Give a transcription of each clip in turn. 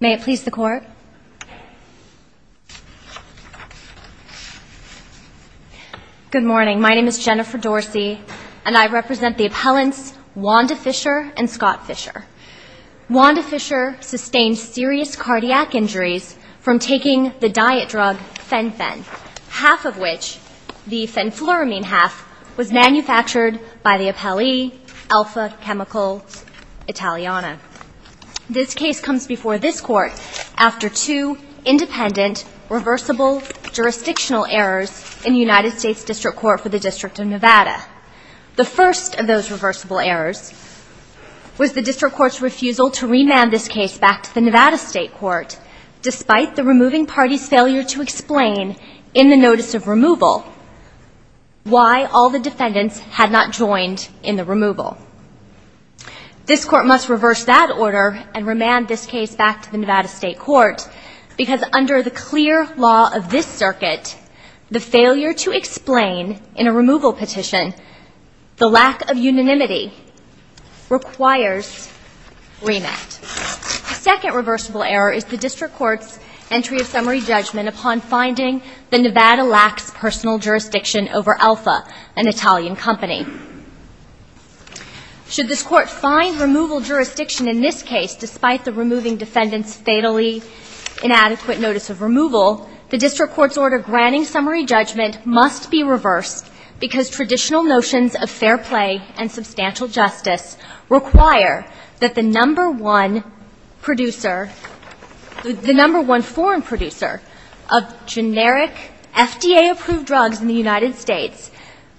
May it please the court. Good morning, my name is Jennifer Dorsey and I represent the appellants Wanda Fisher and Scott Fisher. Wanda Fisher sustained serious cardiac injuries from taking the diet drug fen-phen, half of which, the fenfluramine half, was manufactured by the appellee Alfa Chemicals Italiana. This case comes before this court after two independent reversible jurisdictional errors in the United States District Court for the District of Nevada. The first of those reversible errors was the district court's refusal to remand this case back to the Nevada State Court despite the removing party's failure to explain in the notice of removal why all the defendants had not joined in the removal. This court must reverse that order and remand this case back to the Nevada State Court because under the clear law of this circuit, the failure to explain in a removal petition, the lack of unanimity requires remand. The second reversible error is the district court's entry of summary judgment upon finding the Nevada lacks personal jurisdiction over Alfa, an Italian company. Should this court find removal jurisdiction in this case despite the removing defendants' fatally inadequate notice of removal, the district court's order granting summary judgment must be reversed because traditional notions of fair play and substantial justice require that the number one producer, the number one foreign producer of generic FDA-approved drugs in the United States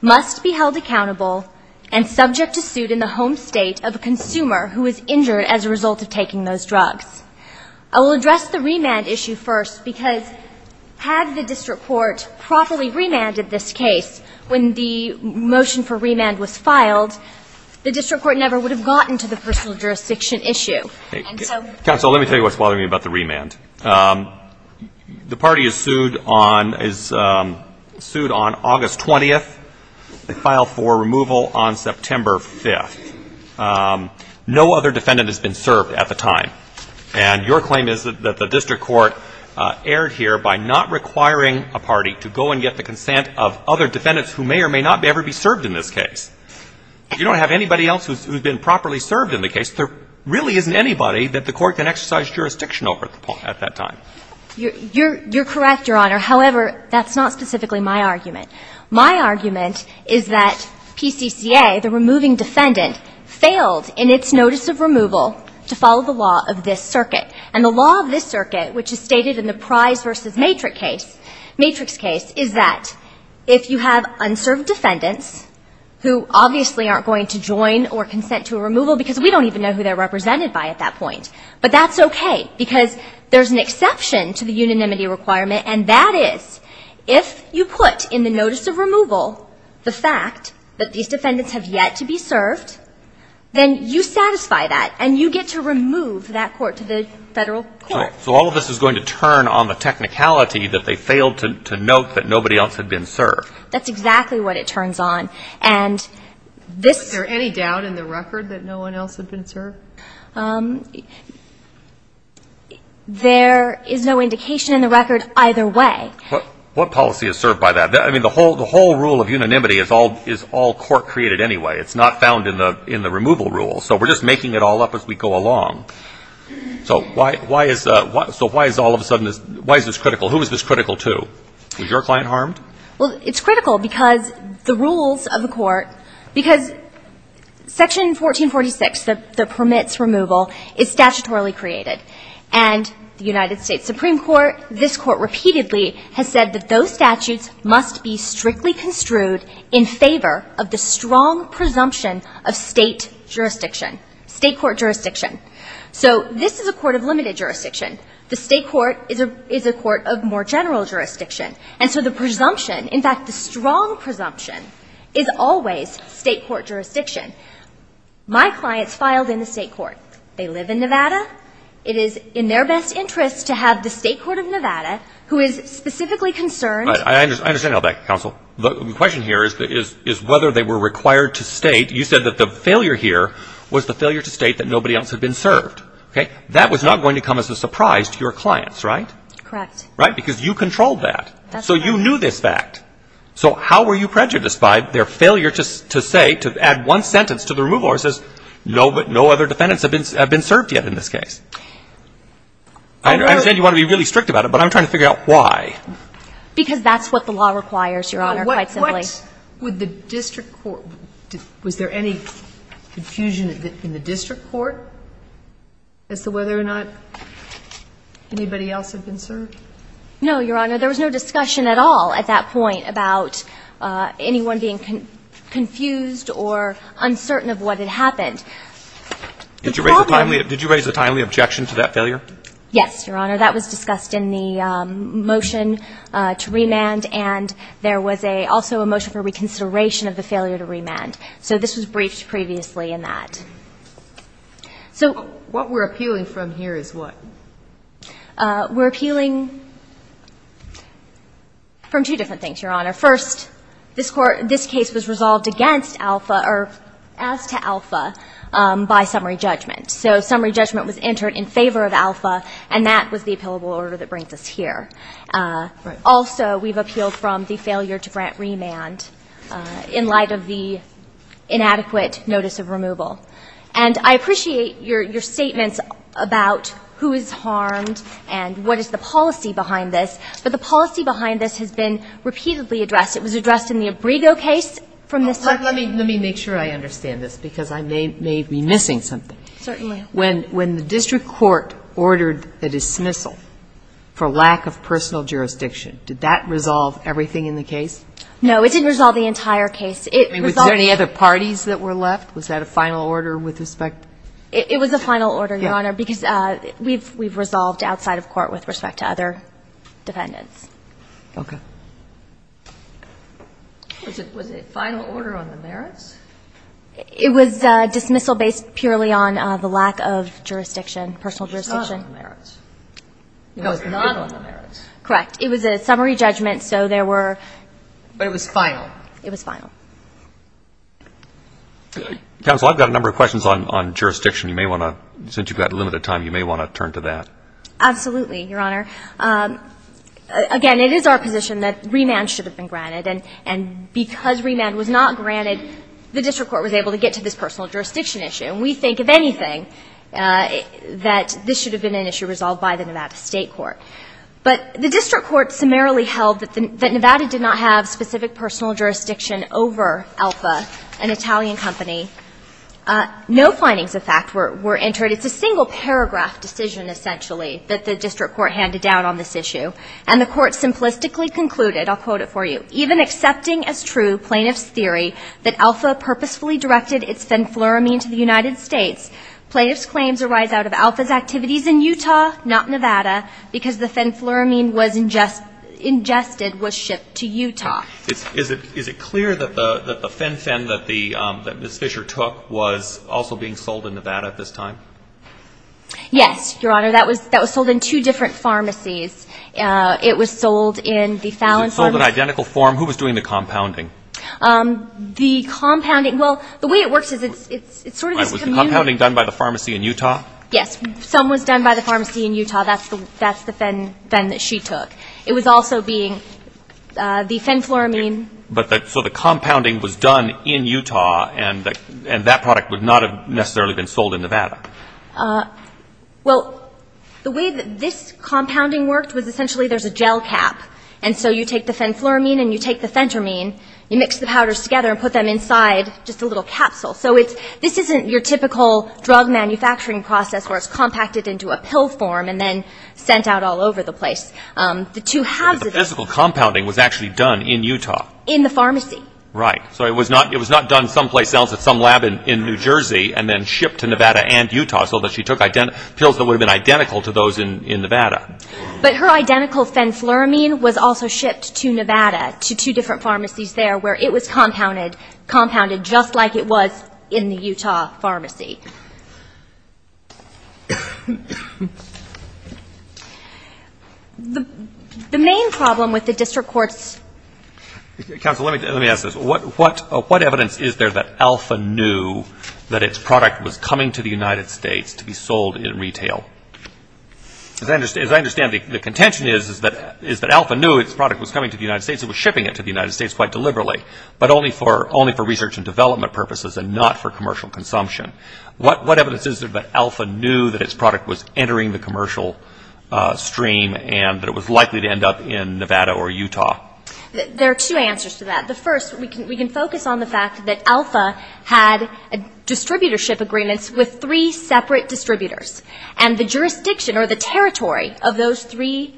must be held accountable and subject to suit in the home state of a consumer who is injured as a result of taking those drugs. I will address the remand issue first because had the district court properly remanded this case when the motion for remand was filed, the district court never would have gotten to the personal jurisdiction issue. Counsel, let me tell you what's bothering me about the remand. The party is sued on – is sued on August 20th. They filed for removal on September 5th. No other defendant has been served at the time. And your claim is that the district court erred here by not requiring a party to go and get the consent of other defendants who may or may not ever be served in this case. You don't have anybody else who's been properly served in the case. There really isn't anybody that the court can exercise jurisdiction over at that time. You're correct, Your Honor. However, that's not specifically my argument. My argument is that PCCA, the removing defendant, failed in its notice of removal to follow the law of this circuit. And the law of this circuit, which is stated in the Prize v. Matrix case, is that if you have unserved defendants who obviously aren't going to join or consent to a removal, because we don't even know who they're represented by at that point. But that's okay, because there's an exception to the unanimity requirement, and that is if you put in the notice of removal the fact that these defendants have yet to be served, then you satisfy that, and you get to remove that court to the federal court. So all of this is going to turn on the technicality that they failed to note that nobody else had been served. That's exactly what it turns on. And this — Was there any doubt in the record that no one else had been served? There is no indication in the record either way. What policy is served by that? I mean, the whole rule of unanimity is all court created anyway. It's not found in the removal rule. So we're just making it all up as we go along. So why is all of a sudden this — why is this critical? Who is this critical to? Was your client harmed? Well, it's critical because the rules of the court — because Section 1446, the permits removal, is statutorily created. And the United States Supreme Court, this Court repeatedly has said that those statutes must be strictly construed in favor of the strong presumption of State jurisdiction, State court jurisdiction. So this is a court of limited jurisdiction. The State court is a court of more presumption. In fact, the strong presumption is always State court jurisdiction. My clients filed in the State court. They live in Nevada. It is in their best interest to have the State court of Nevada, who is specifically concerned — I understand all that, counsel. The question here is whether they were required to state — you said that the failure here was the failure to state that nobody else had been served. That was not going to come as a surprise to your clients, right? Correct. Right? Because you controlled that. That's right. So you knew this fact. So how were you prejudiced by their failure to say, to add one sentence to the removal order that says no other defendants have been served yet in this case? I understand you want to be really strict about it, but I'm trying to figure out why. Because that's what the law requires, Your Honor, quite simply. What would the district court — was there any confusion in the district court as to whether or not anybody else had been served? No, Your Honor. There was no discussion at all at that point about anyone being confused or uncertain of what had happened. Did you raise a timely objection to that failure? Yes, Your Honor. That was discussed in the motion to remand, and there was also a motion for reconsideration of the failure to remand. So this was briefed previously in that. What we're appealing from here is what? We're appealing from two different things, Your Honor. First, this case was resolved against Alpha, or as to Alpha, by summary judgment. So summary judgment was entered in favor of Alpha, and that was the appealable order that brings us here. Right. Also, we've appealed from the failure to grant remand in light of the inadequate notice of removal. And I appreciate your statements about who is harmed and what is the policy behind this, but the policy behind this has been repeatedly addressed. It was addressed in the Abrego case from this time. Let me make sure I understand this, because I may be missing something. Certainly. When the district court ordered a dismissal for lack of personal jurisdiction, did that resolve everything in the case? No, it didn't resolve the entire case. I mean, was there any other parties that were left? Was that a final order with respect? It was a final order, Your Honor, because we've resolved outside of court with respect to other defendants. Okay. Was it a final order on the merits? It was dismissal based purely on the lack of jurisdiction, personal jurisdiction. It was not on the merits. It was not on the merits. Correct. It was a summary judgment, so there were ---- But it was final. It was final. Counsel, I've got a number of questions on jurisdiction. You may want to, since you've got limited time, you may want to turn to that. Absolutely, Your Honor. Again, it is our position that remand should have been granted, and because remand was not granted, the district court was able to get to this personal jurisdiction issue. And we think, if anything, that this should have been an issue resolved by the Nevada State Court. But the district court summarily held that Nevada did not have specific personal jurisdiction over Alpha, an Italian company. No findings of fact were entered. It's a single paragraph decision, essentially, that the district court handed down on this issue. And the court simplistically concluded, I'll quote it for you, Even accepting as true plaintiff's theory that Alpha purposefully directed its venfluramine to the United States, plaintiff's claims arise out of Alpha's because the venfluramine was ingested, was shipped to Utah. Is it clear that the Fen-Phen that Ms. Fisher took was also being sold in Nevada at this time? Yes, Your Honor. That was sold in two different pharmacies. It was sold in the Fallon pharmacy. Was it sold in identical form? Who was doing the compounding? The compounding, well, the way it works is it's sort of this community. Was the compounding done by the pharmacy in Utah? Yes. Some was done by the pharmacy in Utah. That's the Fen that she took. It was also being the venfluramine. So the compounding was done in Utah, and that product would not have necessarily been sold in Nevada. Well, the way that this compounding worked was essentially there's a gel cap, and so you take the venfluramine and you take the fentermine, you mix the powders together and put them inside just a little capsule. So this isn't your typical drug manufacturing process where it's compacted into a pill form and then sent out all over the place. The two halves of it. But the physical compounding was actually done in Utah. In the pharmacy. Right. So it was not done someplace else at some lab in New Jersey and then shipped to Nevada and Utah so that she took pills that would have been identical to those in Nevada. But her identical fenfluramine was also shipped to Nevada to two different labs in the Utah pharmacy. The main problem with the district court's... Counsel, let me ask this. What evidence is there that Alpha knew that its product was coming to the United States to be sold in retail? As I understand it, the contention is that Alpha knew its product was coming to the United States. It was shipping it to the United States quite deliberately, but only for research and development purposes and not for commercial consumption. What evidence is there that Alpha knew that its product was entering the commercial stream and that it was likely to end up in Nevada or Utah? There are two answers to that. The first, we can focus on the fact that Alpha had distributorship agreements with three separate distributors. And the jurisdiction or the territory of those three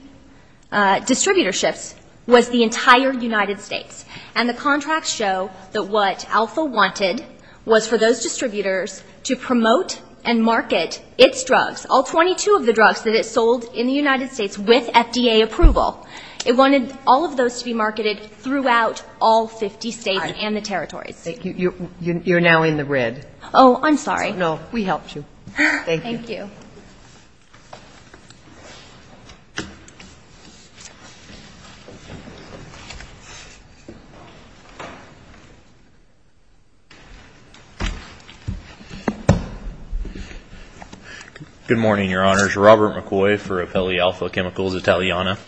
distributorships was the entire United States. And the contracts show that what Alpha wanted was for those distributors to promote and market its drugs, all 22 of the drugs that it sold in the United States with FDA approval. It wanted all of those to be marketed throughout all 50 states and the territories. You're now in the red. Oh, I'm sorry. No, we helped you. Thank you. Good morning, Your Honors. Robert McCoy for Appellee Alpha Chemicals Italiana.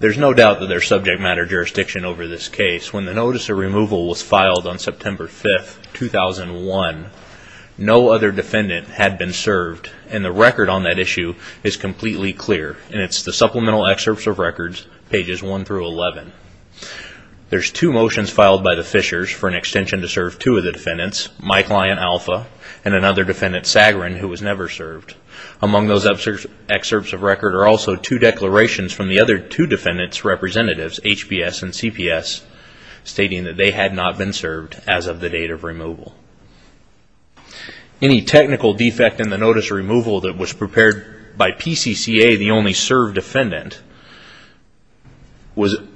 There's no doubt that there's subject matter jurisdiction over this case. When the notice of removal was filed on September 5th, 2001, Thank you. Thank you. And the record on that issue is completely clear, and it's the Supplemental Excerpts of Records, pages 1 through 11. There's two motions filed by the Fishers for an extension to serve two of the defendants, my client, Alpha, and another defendant, Sagarin, who was never served. Among those excerpts of record are also two declarations from the other two defendants' representatives, HBS and CPS, stating that they had not been served as of the date of removal. Any technical defect in the notice of removal that was prepared by PCCA, the only served defendant, was a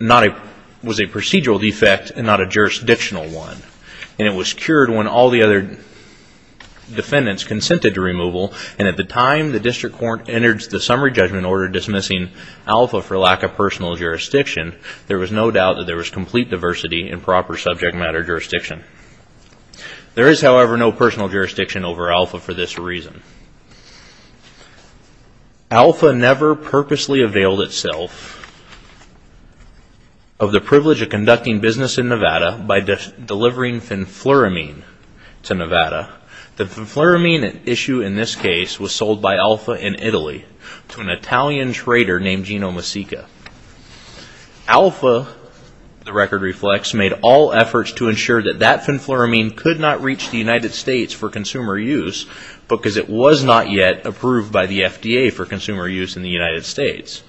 procedural defect and not a jurisdictional one. And it was cured when all the other defendants consented to removal, and at the time the district court entered the summary judgment order dismissing Alpha for lack of personal jurisdiction, there was no doubt that there was complete diversity in proper subject matter jurisdiction. There is, however, no personal jurisdiction over Alpha for this reason. Alpha never purposely availed itself of the privilege of conducting business in Nevada by delivering fenfluramine to Nevada. The fenfluramine issue in this case was sold by Alpha in Italy to an Italian trader named Gino Masica. Alpha, the record reflects, made all efforts to ensure that that fenfluramine could not reach the United States for consumer use because it was not yet approved by the FDA for consumer use in the United States.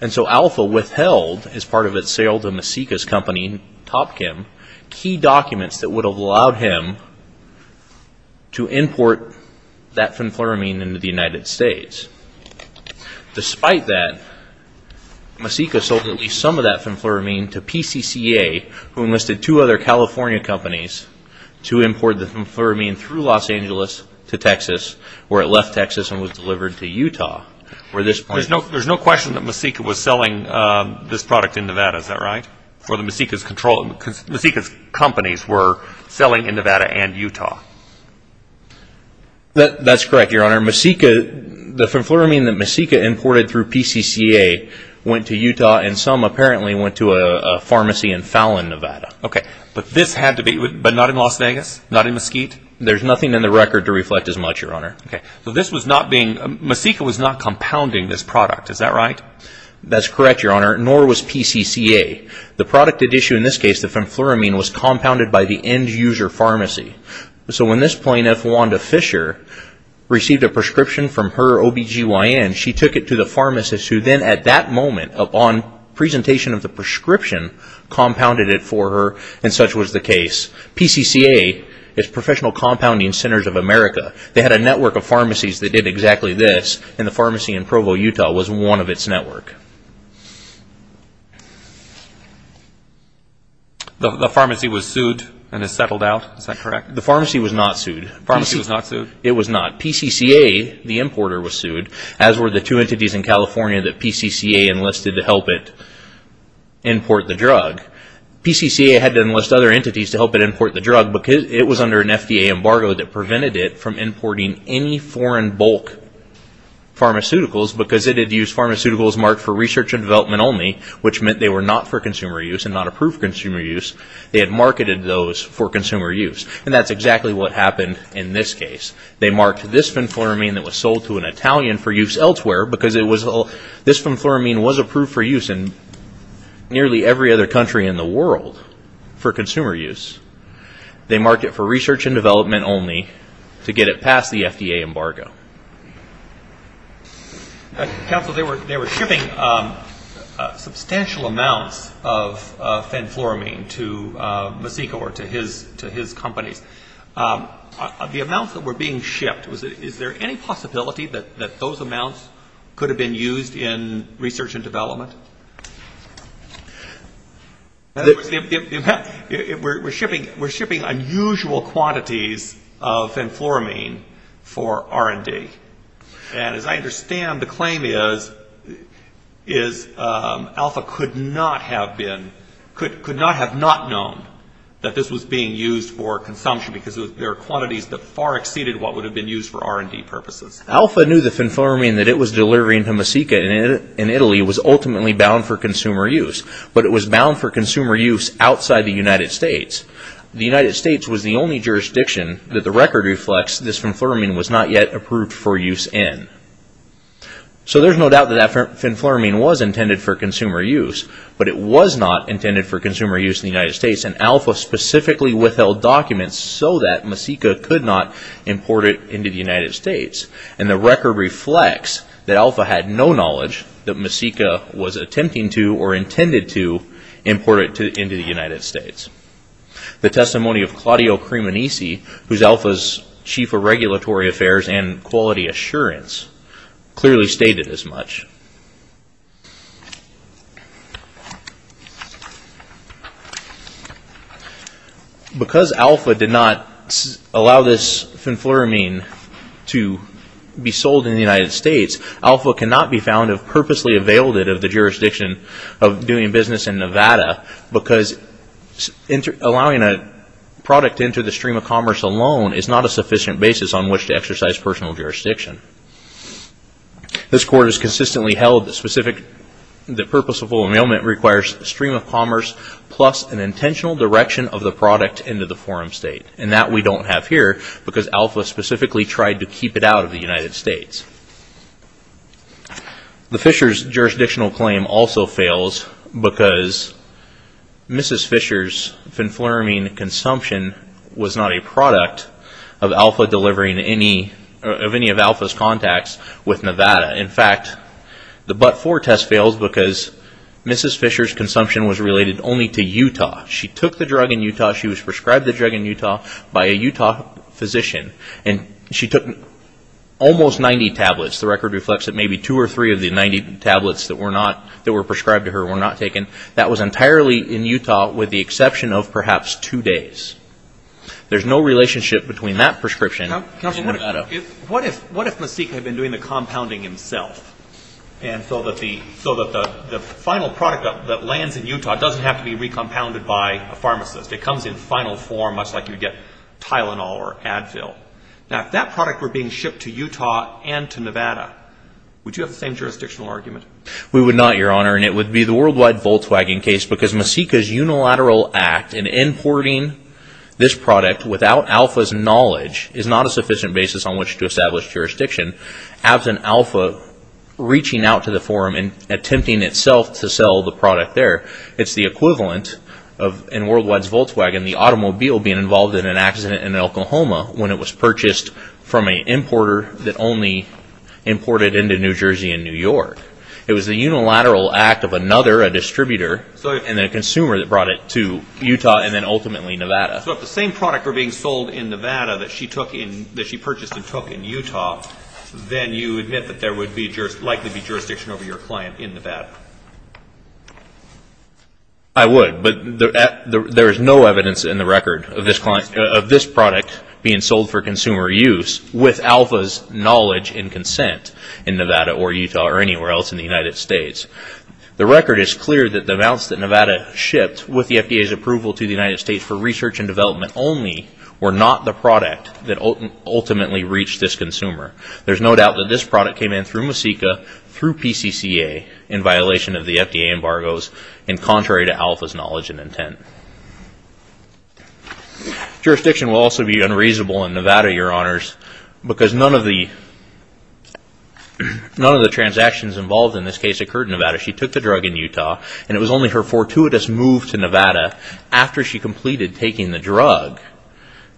And so Alpha withheld, as part of its sale to Masica's company, Top Kim, key documents that would have allowed him to import that fenfluramine into the United States. Despite that, Masica sold at least some of that fenfluramine to PCCA, who enlisted two other California companies to import the fenfluramine through Los Angeles to Texas, where it left Texas and was delivered to Utah. There's no question that Masica was selling this product in Nevada, is that right? Masica's companies were selling in Nevada and Utah. That's correct, Your Honor. The fenfluramine that Masica imported through PCCA went to Utah and some apparently went to a pharmacy in Fallon, Nevada. But not in Las Vegas? Not in Mesquite? There's nothing in the record to reflect as much, Your Honor. Masica was not compounding this product, is that right? That's correct, Your Honor, nor was PCCA. The product at issue in this case, the fenfluramine, was compounded by the end-user pharmacy. So when this plaintiff, Wanda Fisher, received a prescription from her OB-GYN, she took it to the pharmacist who then, at that moment, upon presentation of the prescription, compounded it for her, and such was the case. PCCA is Professional Compounding Centers of America. They had a network of pharmacies that did exactly this, and the pharmacy in Provo, Utah, was one of its network. The pharmacy was sued and is settled out, is that correct? The pharmacy was not sued. The pharmacy was not sued? It was not. PCCA, the importer, was sued, as were the two entities in California that PCCA enlisted to help it import the drug. PCCA had to enlist other entities to help it import the drug because it was under an FDA embargo that prevented it from importing any foreign bulk pharmaceuticals because it had used pharmaceuticals marked for research and development only, which meant they were not for consumer use and not approved consumer use. They had marketed those for consumer use, and that's exactly what happened in this case. They marked this fenfluramine that was sold to an Italian for use elsewhere because this fenfluramine was approved for use in nearly every other country in the world for consumer use. They marked it for research and development only to get it past the FDA embargo. Counsel, they were shipping substantial amounts of fenfluramine to Masico or to his companies. The amounts that were being shipped, is there any possibility that those amounts could have been used in research and development? We're shipping unusual quantities of fenfluramine for R&D. And as I understand, the claim is Alpha could not have been, could not have not known that this was being used for consumption because there are quantities that far exceeded what would have been used for R&D purposes. Alpha knew the fenfluramine that it was delivering to Masico in Italy was ultimately bound for consumer use, but it was bound for consumer use outside the United States. The United States was the only jurisdiction that the record reflects this fenfluramine was not yet approved for use in. So there's no doubt that that fenfluramine was intended for consumer use, but it was not intended for consumer use in the United States. And Alpha specifically withheld documents so that Masico could not import it into the United States. And the record reflects that Alpha had no knowledge that Masico was attempting to or intended to import it into the United States. The testimony of Claudio Cremonisi, who's Alpha's Chief of Regulatory Affairs and Quality Assurance, clearly stated as much. Because Alpha did not allow this fenfluramine to be sold in the United States, Alpha cannot be found to have purposely availed it of the jurisdiction of doing business in Nevada because allowing a product into the stream of commerce alone is not a sufficient basis on which to exercise personal jurisdiction. This Court has consistently held that purposeful amendment requires a stream of commerce plus an intentional direction of the product into the forum state. And that we don't have here because Alpha specifically tried to keep it out of the United States. The Fishers jurisdictional claim also fails because Mrs. Fisher's fenfluramine consumption was not a product of any of Alpha's contacts with Nevada. In fact, the but-for test fails because Mrs. Fisher's consumption was related only to Utah. She took the drug in Utah. She was prescribed the drug in Utah by a Utah physician. And she took almost 90 tablets. The record reflects that maybe 2 or 3 of the 90 tablets that were prescribed to her were not taken. That was entirely in Utah with the exception of perhaps 2 days. There's no relationship between that prescription and Nevada. What if Masik had been doing the compounding himself so that the final product that lands in Utah doesn't have to be recompounded by a pharmacist? It comes in final form much like you'd get Tylenol or Advil. Now, if that product were being shipped to Utah and to Nevada, would you have the same jurisdictional argument? We would not, Your Honor. And it would be the Worldwide Volkswagen case because Masik's unilateral act in importing this product without Alpha's knowledge is not a sufficient basis on which to establish jurisdiction. As an Alpha reaching out to the forum and attempting itself to sell the product there, it's the equivalent of, in Worldwide's Volkswagen, the automobile being involved in an accident in Oklahoma when it was purchased from an importer that only imported into New Jersey and New York. It was the unilateral act of another, a distributor, and then a consumer that brought it to Utah and then ultimately Nevada. So if the same product were being sold in Nevada that she purchased and took in Utah, then you admit that there would likely be jurisdiction over your client in Nevada. I would, but there is no evidence in the record of this product being sold for consumer use with Alpha's knowledge and consent in Nevada or Utah or anywhere else in the United States. The record is clear that the amounts that Nevada shipped with the FDA's approval to the United States for research and development only were not the product that ultimately reached this consumer. There's no doubt that this product came in through Masika, through PCCA in violation of the FDA embargoes and contrary to Alpha's knowledge and intent. Jurisdiction will also be unreasonable in Nevada, Your Honors, because none of the transactions involved in this case occurred in Nevada. She took the drug in Utah and it was only her fortuitous move to Nevada after she completed taking the drug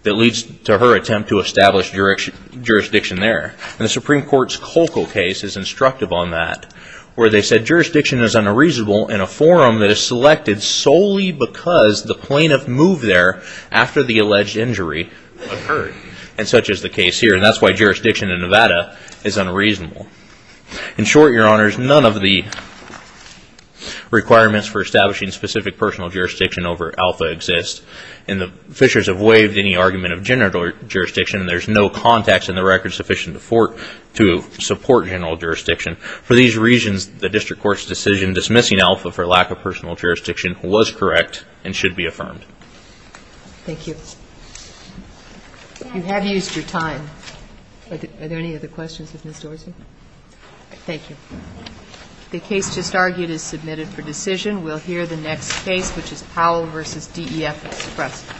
that leads to her attempt to establish jurisdiction there. The Supreme Court's Colco case is instructive on that where they said jurisdiction is unreasonable in a forum that is selected solely because the plaintiff moved there after the alleged injury occurred. And such is the case here. And that's why jurisdiction in Nevada is unreasonable. In short, Your Honors, none of the requirements for establishing specific personal jurisdiction over Alpha exists. And the Fishers have waived any argument of general jurisdiction. There's no context in the record sufficient to support general jurisdiction. For these reasons, the District Court's decision to dismissing Alpha for lack of personal jurisdiction was correct and should be affirmed. Thank you. You have used your time. Are there any other questions of Ms. Dorsey? Thank you. The case just argued is submitted for decision. We'll hear the next case, which is Powell v. DEF Express.